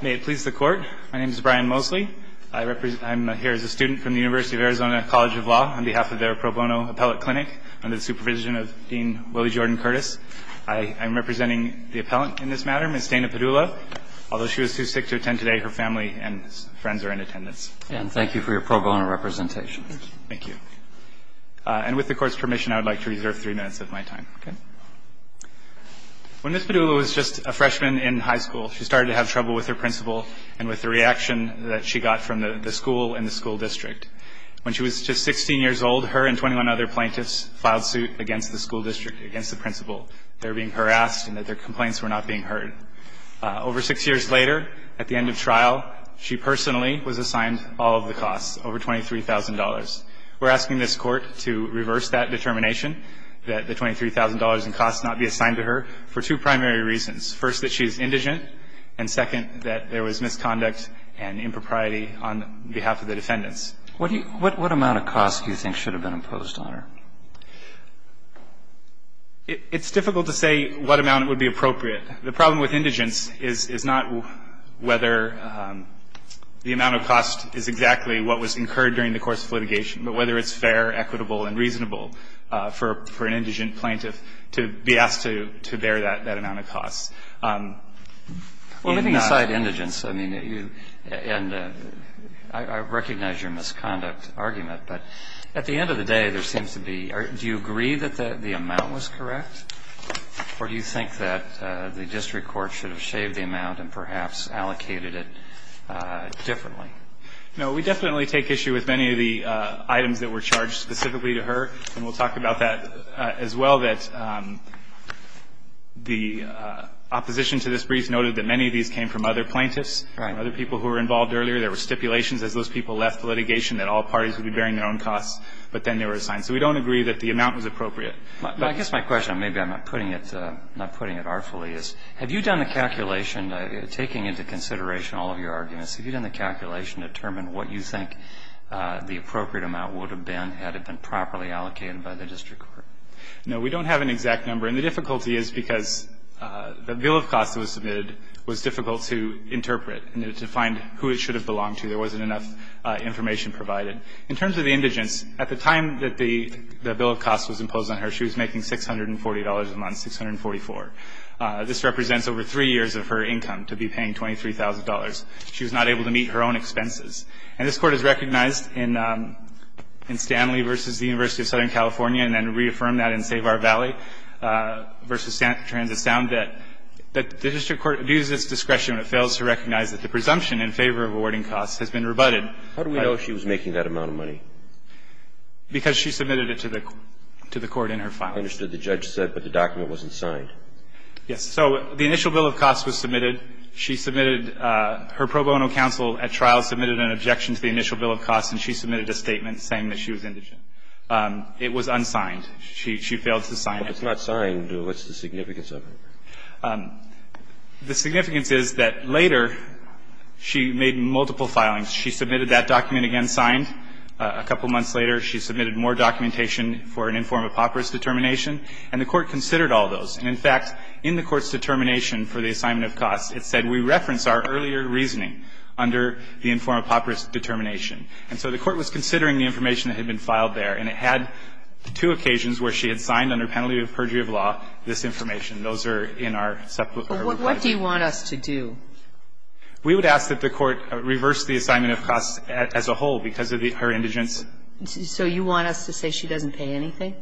May it please the Court. My name is Brian Mosley. I'm here as a student from the University of Arizona College of Law on behalf of their pro bono appellate clinic under the supervision of Dean Willie Jordan Curtis. I am representing the appellant in this matter, Ms. Dana Padula. Although she was too sick to attend today, her family and friends are in attendance. And thank you for your pro bono representation. Thank you. And with the Court's permission, I would like to reserve three minutes of my time. When Ms. Padula was just a freshman in high school, she started to have trouble with her principal and with the reaction that she got from the school and the school district. When she was just 16 years old, her and 21 other plaintiffs filed suit against the school district, against the principal. They were being harassed and their complaints were not being heard. Over six years later, at the end of trial, she personally was assigned all of the costs, over $23,000. We're asking this Court to reverse that determination, that the $23,000 in costs not be assigned to her, for two primary reasons. First, that she is indigent, and second, that there was misconduct and impropriety on behalf of the defendants. What do you – what amount of costs do you think should have been imposed on her? It's difficult to say what amount would be appropriate. The problem with indigence is not whether the amount of cost is exactly what was incurred during the course of litigation, but whether it's fair, equitable, and reasonable for an indigent plaintiff to be asked to bear that amount of costs. Well, moving aside indigence, I mean, you – and I recognize your misconduct argument, but at the end of the day, there seems to be – do you agree that the amount was correct, or do you think that the district court should have shaved the amount and perhaps allocated it differently? No, we definitely take issue with many of the items that were charged specifically to her, and we'll talk about that as well, that the opposition to this brief noted that many of these came from other plaintiffs. Right. Other people who were involved earlier. There were stipulations as those people left litigation that all parties would be bearing their own costs, but then they were assigned. So we don't agree that the amount was appropriate. I guess my question, maybe I'm not putting it artfully, is have you done the calculation, taking into consideration all of your arguments, have you done the calculation to determine what you think the appropriate amount would have been had it been properly allocated by the district court? No, we don't have an exact number, and the difficulty is because the bill of costs that was submitted was difficult to interpret and to find who it should have belonged to. There wasn't enough information provided. In terms of the indigence, at the time that the bill of costs was imposed on her, she was making $640 a month, $644. This represents over 3 years of her income to be paying $23,000. She was not able to meet her own expenses. And this Court has recognized in Stanley v. University of Southern California and then reaffirmed that in Save Our Valley v. Transit Sound that the district court abuses discretion when it fails to recognize that the presumption in favor of awarding costs has been rebutted. that amount of money. How do we know she was making that amount of money? Because she submitted it to the court in her filing. I understood the judge said, but the document wasn't signed. Yes. So the initial bill of costs was submitted. She submitted her pro bono counsel at trial submitted an objection to the initial bill of costs, and she submitted a statement saying that she was indigent. It was unsigned. She failed to sign it. If it's not signed, what's the significance of it? The significance is that later she made multiple filings. She submitted that document again signed. A couple months later, she submitted more documentation for an informed apoperous determination, and the Court considered all those. And, in fact, in the Court's determination for the assignment of costs, it said we reference our earlier reasoning under the informed apoperous determination. And so the Court was considering the information that had been filed there, and it had two occasions where she had signed, under penalty of perjury of law, this information. Those are in our separate reply. But what do you want us to do? We would ask that the Court reverse the assignment of costs as a whole because of her indigence. So you want us to say she doesn't pay anything?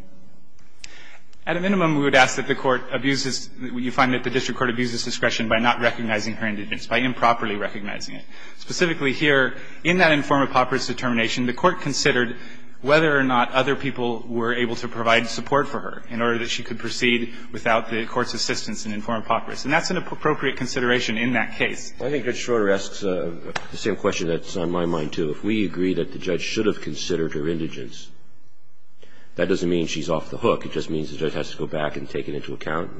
At a minimum, we would ask that the Court abuses you find that the district court abuses discretion by not recognizing her indigence, by improperly recognizing Specifically here, in that informed apoperous determination, the Court considered whether or not other people were able to provide support for her in order that she could proceed without the Court's assistance in informed apoperous. And that's an appropriate consideration in that case. Well, I think Judge Schroeder asks the same question that's on my mind, too. If we agree that the judge should have considered her indigence, that doesn't mean she's off the hook. It just means the judge has to go back and take it into account.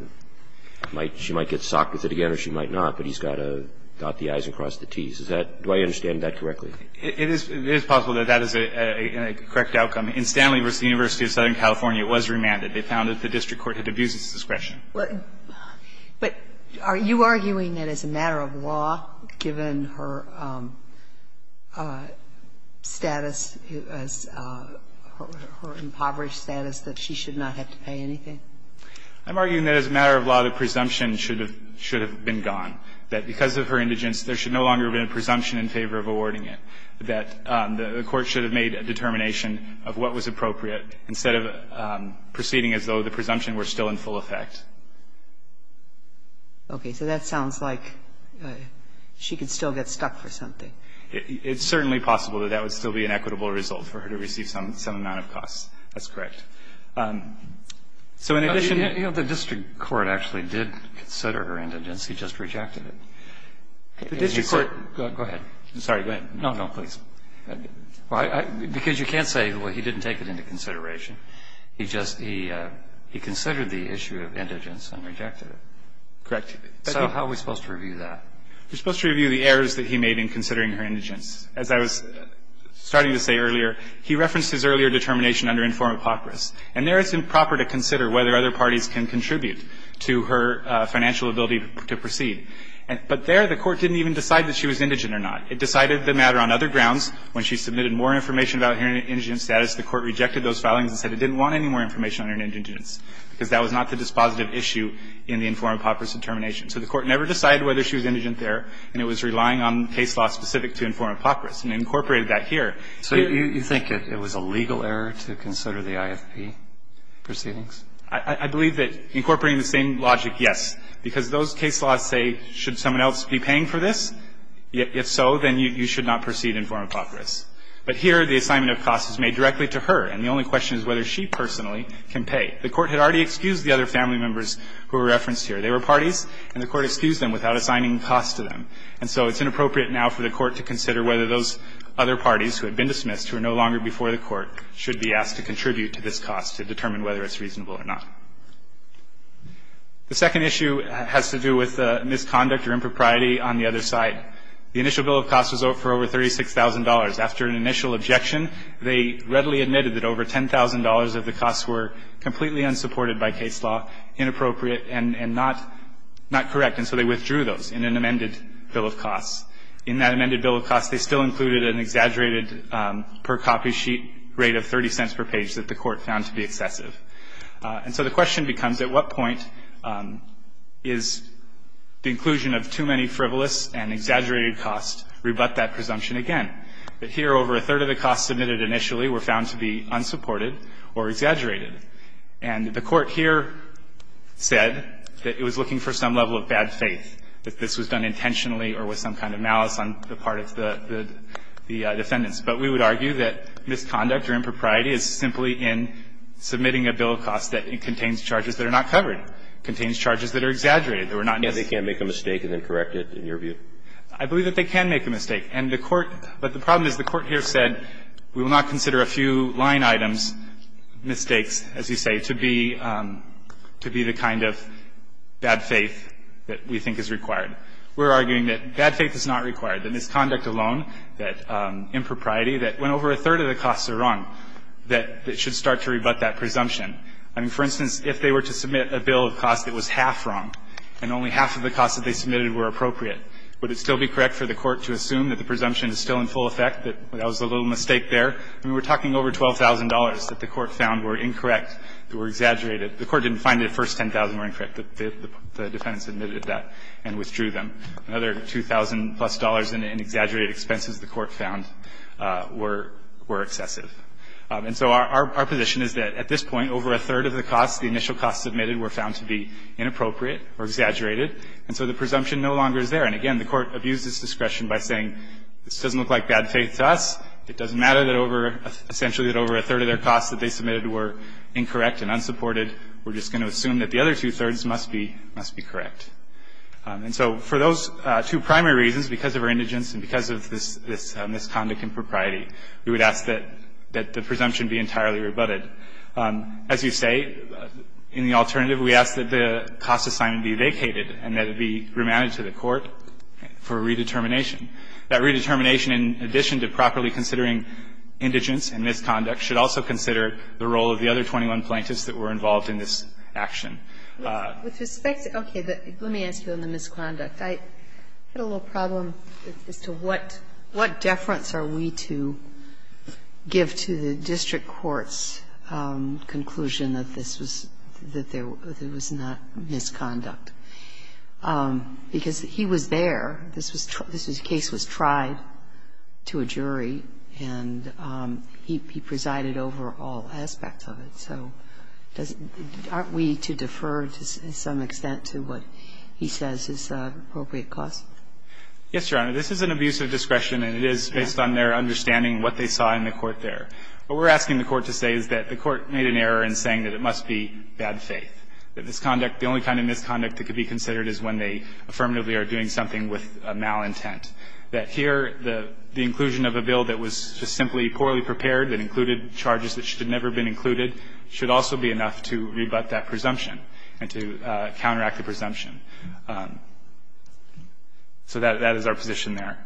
She might get socked with it again or she might not, but he's got to dot the i's and cross the t's. Do I understand that correctly? It is possible that that is a correct outcome. In Stanley v. University of Southern California, it was remanded. They found that the district court had abused its discretion. But are you arguing that as a matter of law, given her status, her impoverished status, that she should not have to pay anything? I'm arguing that as a matter of law, the presumption should have been gone, that because of her indigence, there should no longer have been a presumption in favor of awarding it, that the court should have made a determination of what was appropriate instead of proceeding as though the presumption were still in full effect. Okay. So that sounds like she could still get stuck for something. It's certainly possible that that would still be an equitable result for her to receive some amount of costs. That's correct. So in addition to that, the district court actually did consider her indigence. He just rejected it. Go ahead. I'm sorry. Go ahead. No, no, please. Because you can't say, well, he didn't take it into consideration. He just he considered the issue of indigence and rejected it. Correct. So how are we supposed to review that? We're supposed to review the errors that he made in considering her indigence. As I was starting to say earlier, he referenced his earlier determination under inform hypocrisy. And there it's improper to consider whether other parties can contribute to her financial ability to proceed. But there the court didn't even decide that she was indigent or not. It decided the matter on other grounds. When she submitted more information about her indigent status, the court rejected those filings and said it didn't want any more information on her indigence because that was not the dispositive issue in the inform hypocrisy determination. So the court never decided whether she was indigent there, and it was relying on case law specific to inform hypocrisy and incorporated that here. So you think it was a legal error to consider the IFP proceedings? I believe that incorporating the same logic, yes. Because those case laws say, should someone else be paying for this? If so, then you should not proceed inform hypocrisy. But here the assignment of costs is made directly to her, and the only question is whether she personally can pay. The court had already excused the other family members who were referenced here. They were parties, and the court excused them without assigning costs to them. And so it's inappropriate now for the court to consider whether those other parties who had been dismissed, who are no longer before the court, should be asked to contribute to this cost to determine whether it's reasonable or not. The second issue has to do with misconduct or impropriety on the other side. The initial bill of costs was for over $36,000. After an initial objection, they readily admitted that over $10,000 of the costs were completely unsupported by case law, inappropriate, and not correct, and so they withdrew those in an amended bill of costs. In that amended bill of costs, they still included an exaggerated per-copy sheet rate of 30 cents per page that the court found to be excessive. And so the question becomes, at what point is the inclusion of too many frivolous and exaggerated costs rebut that presumption again? But here, over a third of the costs admitted initially were found to be unsupported or exaggerated. And the court here said that it was looking for some level of bad faith, that this was done intentionally or with some kind of malice on the part of the defendants. But we would argue that misconduct or impropriety is simply in submitting a bill of costs that contains charges that are not covered, contains charges that are exaggerated, that were not needed. They can't make a mistake and then correct it, in your view? I believe that they can make a mistake. And the court – but the problem is the court here said, we will not consider a few line items, mistakes, as you say, to be the kind of bad faith that we think is required. We're arguing that bad faith is not required, that misconduct alone, that impropriety that, when over a third of the costs are wrong, that it should start to rebut that presumption. I mean, for instance, if they were to submit a bill of costs that was half wrong and only half of the costs that they submitted were appropriate, would it still be correct for the court to assume that the presumption is still in full effect, that that was a little mistake there? I mean, we're talking over $12,000 that the court found were incorrect, that were exaggerated. The court didn't find the first $10,000 were incorrect. The defendants admitted that and withdrew them. Another $2,000-plus in exaggerated expenses the court found were excessive. And so our position is that, at this point, over a third of the costs, the initial costs admitted, were found to be inappropriate or exaggerated. And so the presumption no longer is there. And, again, the court abused its discretion by saying, this doesn't look like bad faith to us. It doesn't matter that over – essentially that over a third of their costs that they submitted were incorrect and unsupported. We're just going to assume that the other two-thirds must be correct. And so for those two primary reasons, because of our indigence and because of this misconduct impropriety, we would ask that the presumption be entirely rebutted. As you say, in the alternative, we ask that the cost assignment be vacated and that it be remanded to the court for redetermination. That redetermination, in addition to properly considering indigence and misconduct, should also consider the role of the other 21 plaintiffs that were involved in this action. With respect to – okay. Let me ask you on the misconduct. I had a little problem as to what deference are we to give to the district court's conclusion that this was – that there was not misconduct. Because he was there. This was a case that was tried to a jury, and he presided over all aspects of it. So doesn't – aren't we to defer, to some extent, to what he says is appropriate cost? Yes, Your Honor. This is an abuse of discretion, and it is based on their understanding what they saw in the court there. What we're asking the court to say is that the court made an error in saying that it must be bad faith, that misconduct – the only kind of misconduct that could be considered is when they affirmatively are doing something with a malintent. That here, the inclusion of a bill that was just simply poorly prepared, that included charges that should have never been included, should also be enough to rebut that presumption and to counteract the presumption. So that is our position there.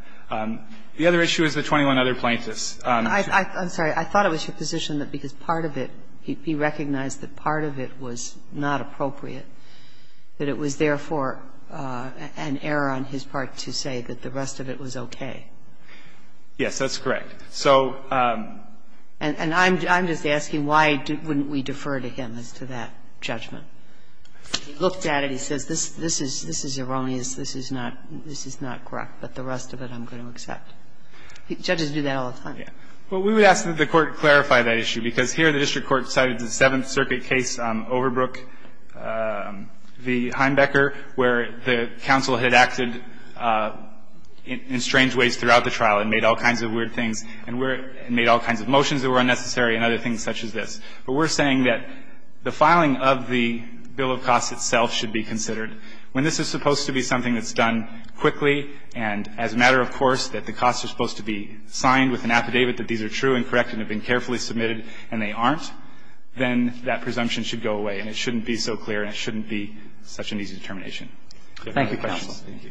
The other issue is the 21 other plaintiffs. I'm sorry. I thought it was your position that because part of it – he recognized that part of it was not appropriate, that it was, therefore, an error on his part to say that the rest of it was okay. Yes, that's correct. So – And I'm just asking why wouldn't we defer to him as to that judgment? He looked at it. He says, this is erroneous. This is not correct, but the rest of it I'm going to accept. Judges do that all the time. Yes. Well, we would ask that the court clarify that issue, because here the district court cited the Seventh Circuit case, Overbrook v. Heimbecker, where the counsel had acted in strange ways throughout the trial and made all kinds of weird things. And made all kinds of motions that were unnecessary and other things such as this. But we're saying that the filing of the bill of costs itself should be considered. When this is supposed to be something that's done quickly and as a matter of course that the costs are supposed to be signed with an affidavit that these are true and correct and have been carefully submitted and they aren't, then that presumption should go away. And it shouldn't be so clear and it shouldn't be such an easy determination. Thank you, counsel. Thank you.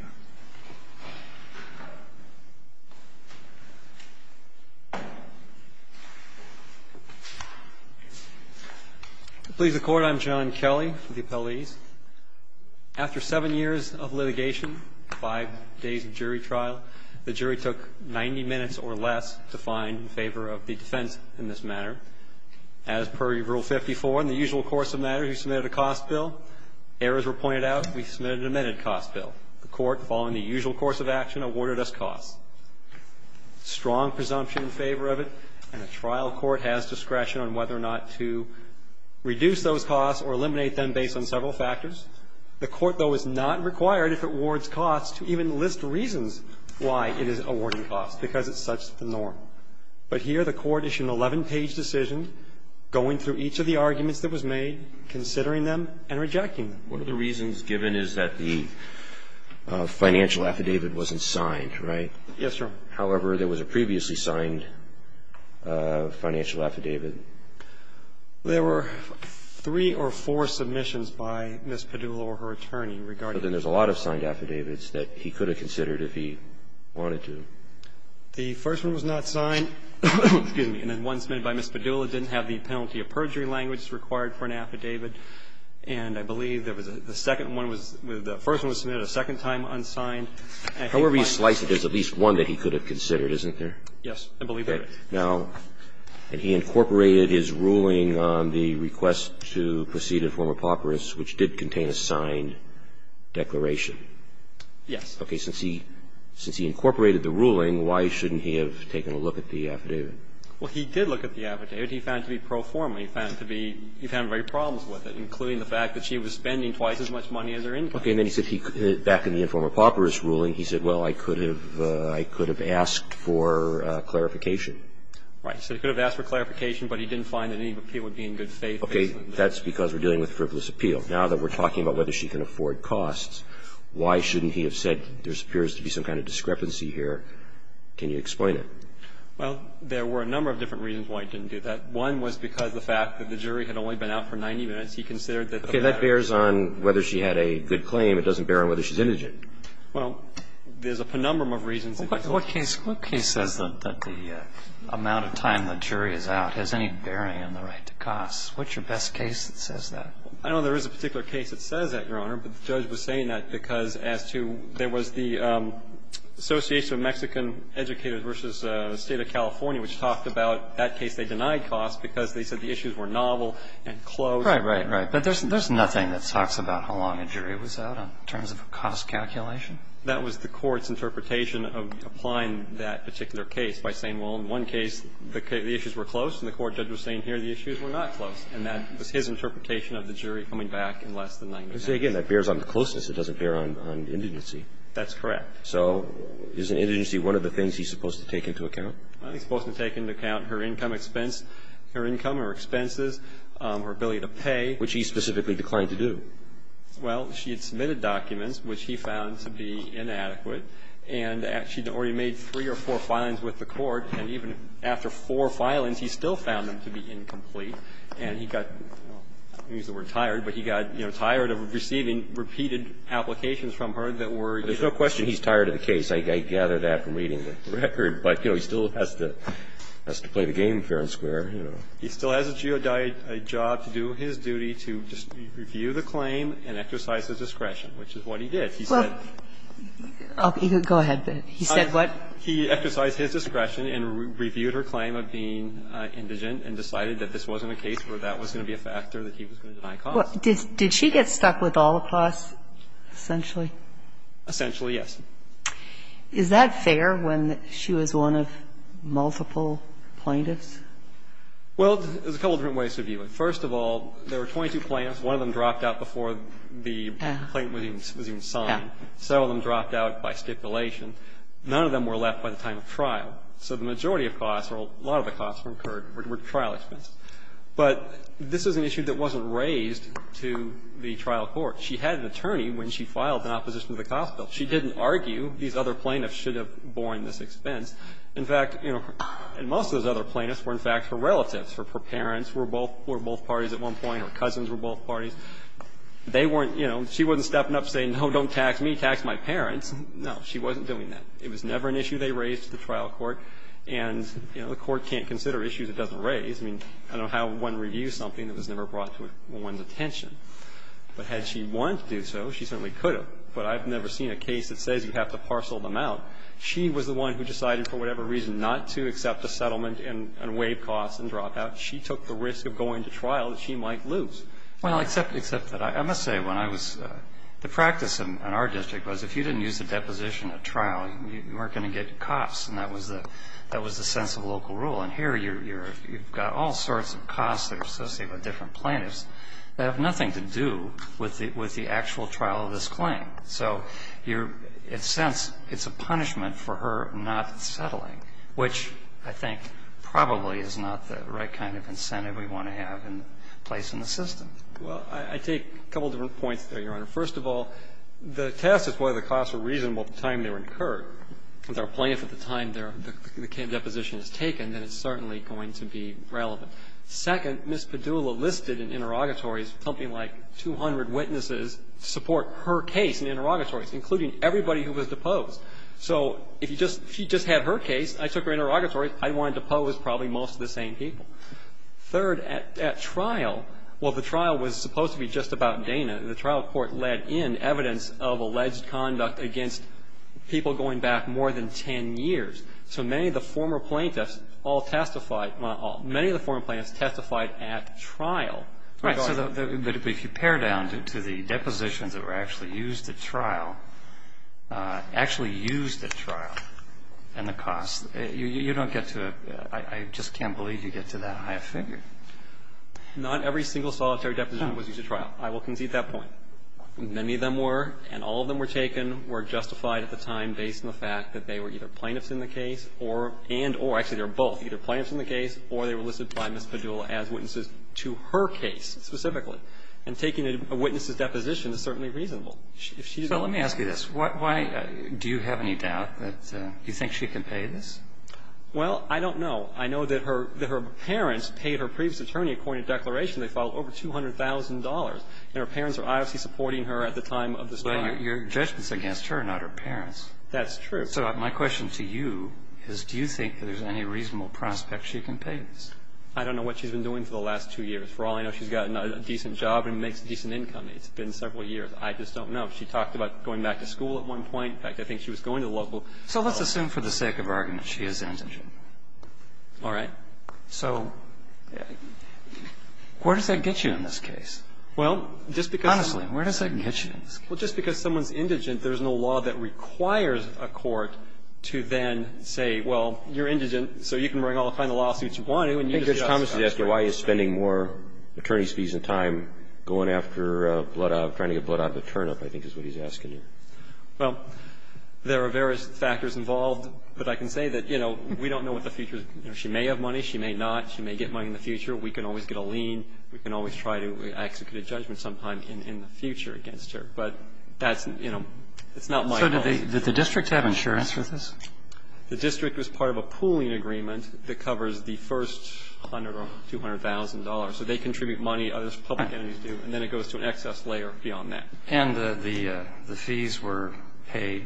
Please, the Court. I'm John Kelly with the appellees. After seven years of litigation, five days of jury trial, the jury took 90 minutes or less to find in favor of the defense in this matter. As per Rule 54, in the usual course of matters, we submitted a cost bill. Errors were pointed out. We submitted an amended cost bill. The Court, following the usual course of action, awarded us costs. Strong presumption in favor of it, and a trial court has discretion on whether or not to reduce those costs or eliminate them based on several factors. The Court, though, is not required, if it awards costs, to even list reasons why it is awarding costs, because it's such the norm. But here the Court issued an 11-page decision going through each of the arguments that was made, considering them, and rejecting them. One of the reasons given is that the financial affidavit wasn't signed, right? Yes, Your Honor. However, there was a previously signed financial affidavit. There were three or four submissions by Ms. Padula or her attorney regarding But then there's a lot of signed affidavits that he could have considered if he wanted to. The first one was not signed. Excuse me. And then one submitted by Ms. Padula didn't have the penalty of perjury language required for an affidavit. And I believe there was a second one was the first one was submitted a second time unsigned. However you slice it, there's at least one that he could have considered, isn't there? Yes, I believe there is. Now, and he incorporated his ruling on the request to proceed in form of paupers, which did contain a signed declaration. Yes. Okay. Since he incorporated the ruling, why shouldn't he have taken a look at the affidavit? Well, he did look at the affidavit. He found it to be pro forma. He found it to be, he found very problems with it, including the fact that she was spending twice as much money as her income. Okay. And then he said he, back in the informal paupers ruling, he said, well, I could have, I could have asked for clarification. Right. He said he could have asked for clarification, but he didn't find that any appeal would be in good faith. Okay. That's because we're dealing with frivolous appeal. Now that we're talking about whether she can afford costs, why shouldn't he have said there appears to be some kind of discrepancy here? Can you explain it? Well, there were a number of different reasons why he didn't do that. One was because of the fact that the jury had only been out for 90 minutes. He considered that the matter of the case was a matter of time. Okay. That bears on whether she had a good claim. It doesn't bear on whether she's indigent. Well, there's a penumbrum of reasons. What case, what case says that the amount of time the jury is out has any bearing on the right to costs? What's your best case that says that? I know there is a particular case that says that, Your Honor, but the judge was saying that because as to, there was the Association of Mexican Educators v. State of California, which talked about that case they denied costs because they said the issues were novel and close. Right, right, right. But there's nothing that talks about how long a jury was out in terms of a cost calculation. That was the Court's interpretation of applying that particular case by saying, well, in one case the issues were close and the court judge was saying here the issues were not close. And that was his interpretation of the jury coming back in less than 90 minutes. Again, that bears on the closeness. It doesn't bear on indigency. That's correct. So is an indigency one of the things he's supposed to take into account? I think he's supposed to take into account her income expense, her income or expenses, her ability to pay. Which he specifically declined to do. Well, she had submitted documents which he found to be inadequate, and she had already made three or four filings with the court, and even after four filings he still found them to be incomplete. And he got, I don't want to use the word tired, but he got, you know, tired of receiving repeated applications from her that were, you know. There's no question he's tired of the case. I gather that from reading the record. But, you know, he still has to play the game fair and square, you know. He still has a job to do his duty to just review the claim and exercise his discretion, which is what he did. He said he exercised his discretion and reviewed her claim of being indigent and decided that this wasn't a case where that was going to be a factor that he was going to deny cause. Did she get stuck with all the costs, essentially? Essentially, yes. Is that fair when she was one of multiple plaintiffs? Well, there's a couple different ways to view it. First of all, there were 22 plaintiffs. One of them dropped out before the complaint was even signed. Several of them dropped out by stipulation. None of them were left by the time of trial. So the majority of costs, or a lot of the costs, were incurred, were trial expenses. But this is an issue that wasn't raised to the trial court. She had an attorney when she filed in opposition to the cost bill. She didn't argue these other plaintiffs should have borne this expense. In fact, you know, most of those other plaintiffs were, in fact, her relatives. Her parents were both parties at one point. Her cousins were both parties. They weren't, you know, she wasn't stepping up saying, no, don't tax me, tax my parents. No, she wasn't doing that. It was never an issue they raised to the trial court. And, you know, the court can't consider issues it doesn't raise. I mean, I don't know how one reviews something that was never brought to one's attention. But had she wanted to do so, she certainly could have. But I've never seen a case that says you have to parcel them out. She was the one who decided for whatever reason not to accept a settlement and waive costs and drop out. She took the risk of going to trial that she might lose. Well, except that I must say when I was the practice in our district was if you didn't use the deposition at trial, you weren't going to get costs. And that was the sense of local rule. And here you've got all sorts of costs that are associated with different plaintiffs that have nothing to do with the actual trial of this claim. So you're, in a sense, it's a punishment for her not settling, which I think probably is not the right kind of incentive we want to have in place in the system. Well, I take a couple of different points there, Your Honor. First of all, the test is whether the costs were reasonable at the time they were incurred. If they're a plaintiff at the time the deposition is taken, then it's certainly going to be relevant. Second, Ms. Padula listed in interrogatories something like 200 witnesses to support her case in interrogatories, including everybody who was deposed. So if you just, if you just had her case, I took her interrogatory, I wanted to pose probably most of the same people. Third, at trial, while the trial was supposed to be just about Dana, the trial court led in evidence of alleged conduct against people going back more than 10 years. So many of the former plaintiffs all testified, well, many of the former plaintiffs testified at trial. Right. So if you pare down to the depositions that were actually used at trial, actually used at trial, and the costs, you don't get to a, I just can't believe you get to that high a figure. Not every single solitary deposition was used at trial. I will concede that point. Many of them were, and all of them were taken, were justified at the time based on the fact that they were either plaintiffs in the case or, and or, actually they were both, either plaintiffs in the case or they were listed by Ms. Padula as witnesses to her case, specifically. And taking a witness's deposition is certainly reasonable. If she is a lawyer. So let me ask you this. Why, do you have any doubt that, do you think she can pay this? Well, I don't know. I know that her, that her parents paid her previous attorney, according to the declaration, they filed over $200,000. And her parents are obviously supporting her at the time of this trial. But your judgment is against her, not her parents. That's true. So my question to you is, do you think there's any reasonable prospect she can pay this? I don't know what she's been doing for the last two years. For all I know, she's gotten a decent job and makes a decent income. It's been several years. I just don't know. She talked about going back to school at one point. In fact, I think she was going to the local school. So let's assume for the sake of argument she is indigent. All right. So where does that get you in this case? Well, just because. Honestly, where does that get you in this case? Well, just because someone's indigent, there's no law that requires a court to then say, well, you're indigent, so you can bring all the kind of lawsuits you want to. And you just get off the job. I think Judge Thomas is asking why he's spending more attorney's fees and time going after blood odds, trying to get blood odds of turnip, I think is what he's asking you. Well, there are various factors involved. But I can say that, you know, we don't know what the future is. She may have money. She may not. She may get money in the future. We can always get a lien. We can always try to execute a judgment sometime in the future against her. But that's, you know, it's not my goal. So did the district have insurance for this? The district was part of a pooling agreement that covers the first $100,000 or $200,000. So they contribute money. Others, public entities do. And then it goes to an excess layer beyond that. And the fees were paid.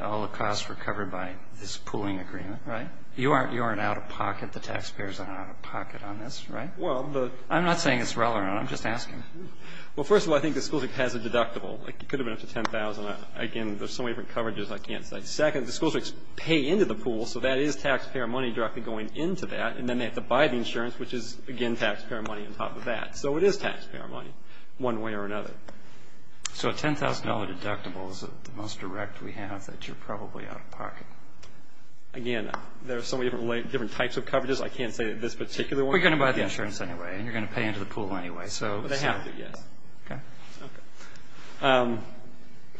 All the costs were covered by this pooling agreement, right? You aren't out-of-pocket. The taxpayers are not out-of-pocket on this, right? Well, the ---- I'm not saying it's relevant. I'm just asking. Well, first of all, I think the school district has a deductible. It could have been up to $10,000. Again, there's so many different coverages, I can't say. Second, the school districts pay into the pool. So that is taxpayer money directly going into that. And then they have to buy the insurance, which is, again, taxpayer money on top of that. So it is taxpayer money, one way or another. So a $10,000 deductible is the most direct we have that you're probably out-of-pocket. Again, there's so many different types of coverages. I can't say that this particular one ---- Well, you're going to buy the insurance anyway. And you're going to pay into the pool anyway. So ---- Well, they have to, yes. Okay. Okay. Has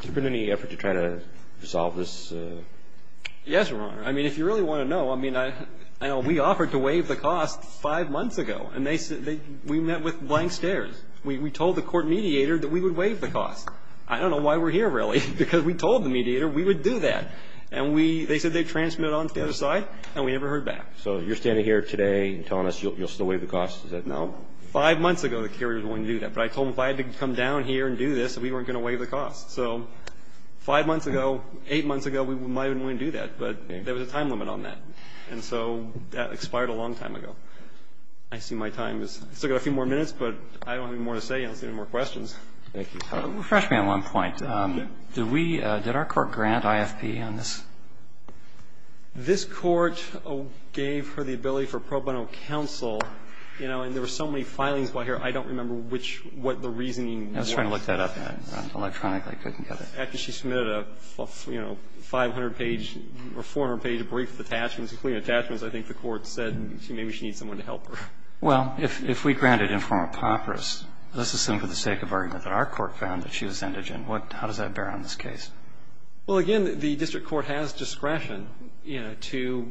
there been any effort to try to resolve this? Yes, Your Honor. I mean, if you really want to know, I mean, I know we offered to waive the cost five months ago. And they said they ---- we met with blank stares. We told the court mediator that we would waive the cost. I don't know why we're here, really, because we told the mediator we would do that. And we ---- they said they transmitted on to the other side, and we never heard back. So you're standing here today and telling us you'll still waive the cost? Is that now ---- Five months ago, the carrier was willing to do that. But I told them if I had to come down here and do this, that we weren't going to waive the cost. So five months ago, eight months ago, we might have been willing to do that. But there was a time limit on that. And so that expired a long time ago. I see my time is ---- I've still got a few more minutes, but I don't have any more to say. I don't see any more questions. Thank you. Refresh me on one point. Did we ---- did our court grant IFP on this? This court gave her the ability for pro bono counsel, you know, and there were so many filings while here, I don't remember which ---- what the reasoning was. I was trying to look that up. I didn't run it electronically. I couldn't get it. After she submitted a, you know, 500-page or 400-page brief with attachments, including attachments, I think the court said maybe she needs someone to help her. Well, if we granted in form of POPRIS, let's assume for the sake of argument that our court found that she was indigent, what ---- how does that bear on this case? Well, again, the district court has discretion, you know, to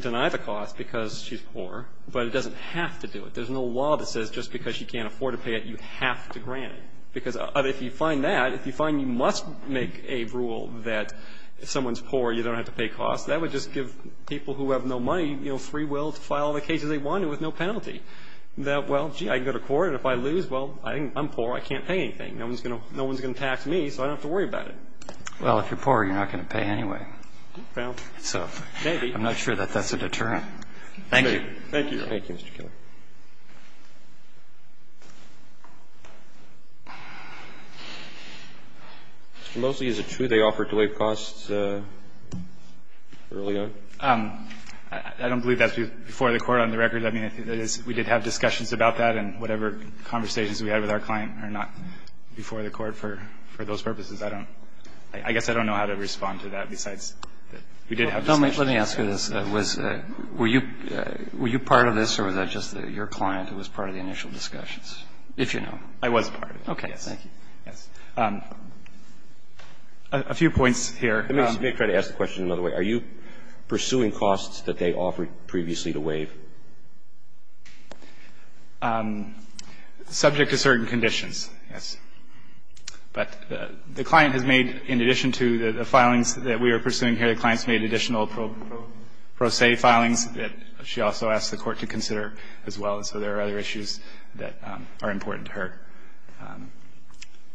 deny the cost because she's poor, but it doesn't have to do it. There's no law that says just because she can't afford to pay it, you have to grant it, because if you find that, if you find you must make a rule that if someone's poor, you don't have to pay costs, that would just give people who have no money, you know, free will to file the cases they wanted with no penalty. That, well, gee, I can go to court, and if I lose, well, I'm poor, I can't pay anything. No one's going to tax me, so I don't have to worry about it. Well, if you're poor, you're not going to pay anyway. Well, maybe. I'm not sure that that's a deterrent. Thank you. Thank you. Thank you, Mr. Keller. Mr. Mosley, is it true they offered delayed costs early on? I don't believe that's before the Court on the record. I mean, we did have discussions about that, and whatever conversations we had with our client are not before the Court for those purposes. I don't – I guess I don't know how to respond to that besides that we did have discussions. Let me ask you this. Was – were you part of this, or was that just your client who was part of the initial discussions, if you know? I was part of it, yes. Okay. Thank you. Yes. A few points here. Let me try to ask the question another way. Are you pursuing costs that they offered previously to waive? Subject to certain conditions, yes. But the client has made, in addition to the filings that we are pursuing here, the client's made additional pro se filings that she also asked the Court to consider as well. So there are other issues that are important to her.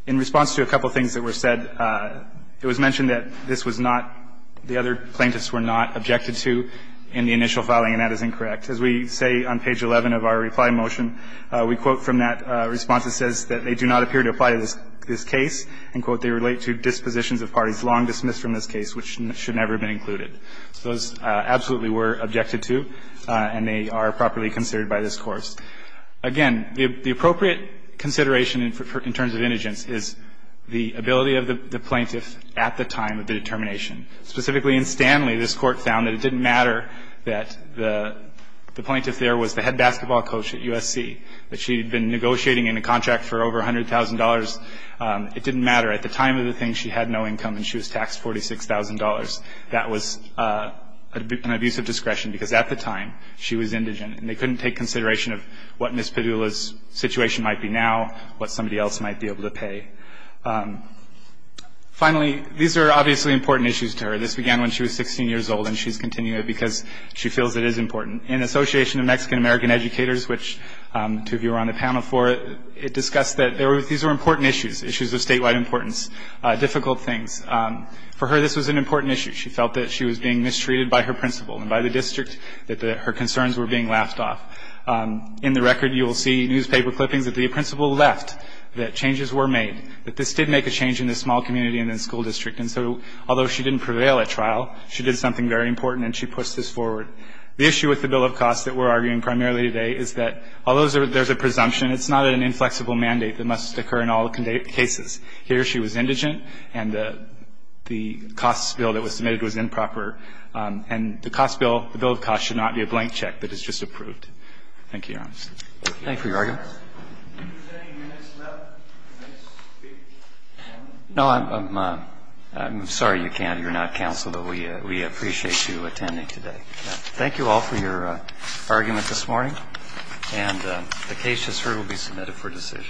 In response to a couple of things that were said, it was mentioned that this was not – the other plaintiffs were not objected to in the initial filing, and that is incorrect. As we say on page 11 of our reply motion, we quote from that response, it says that they do not appear to apply to this case, and, quote, they relate to dispositions of parties long dismissed from this case, which should never have been included. So those absolutely were objected to, and they are properly considered by this Court. Again, the appropriate consideration in terms of indigence is the ability of the plaintiff at the time of the determination. Specifically in Stanley, this Court found that it didn't matter that the plaintiff there was the head basketball coach at USC, that she had been negotiating in a contract for over $100,000. It didn't matter. At the time of the thing, she had no income, and she was taxed $46,000. That was an abuse of discretion, because at the time, she was indigent, and they couldn't take consideration of what Ms. Padula's situation might be now, what somebody else might be able to pay. Finally, these are obviously important issues to her. This began when she was 16 years old, and she's continuing it because she feels it is important. For her, this was an important issue. She felt that she was being mistreated by her principal and by the district, that her concerns were being laughed off. In the record, you will see newspaper clippings that the principal left, that changes were made, that this did make a change in the small community and in the school district. And so, although she didn't prevail at trial, she did something very important, and she pushed this forward. The issue with the bill of costs that we're arguing primarily today is that although there's a presumption, it's not an inflexible mandate that must occur in all cases. Here, she was indigent, and the costs bill that was submitted was improper. And the costs bill, the bill of costs, should not be a blank check that is just approved. Thank you, Your Honor. Thank you for your argument. No, I'm sorry you can't. You're not counsel, but we appreciate you attending today. Thank you all for your argument this morning. And the case just heard will be submitted for decision.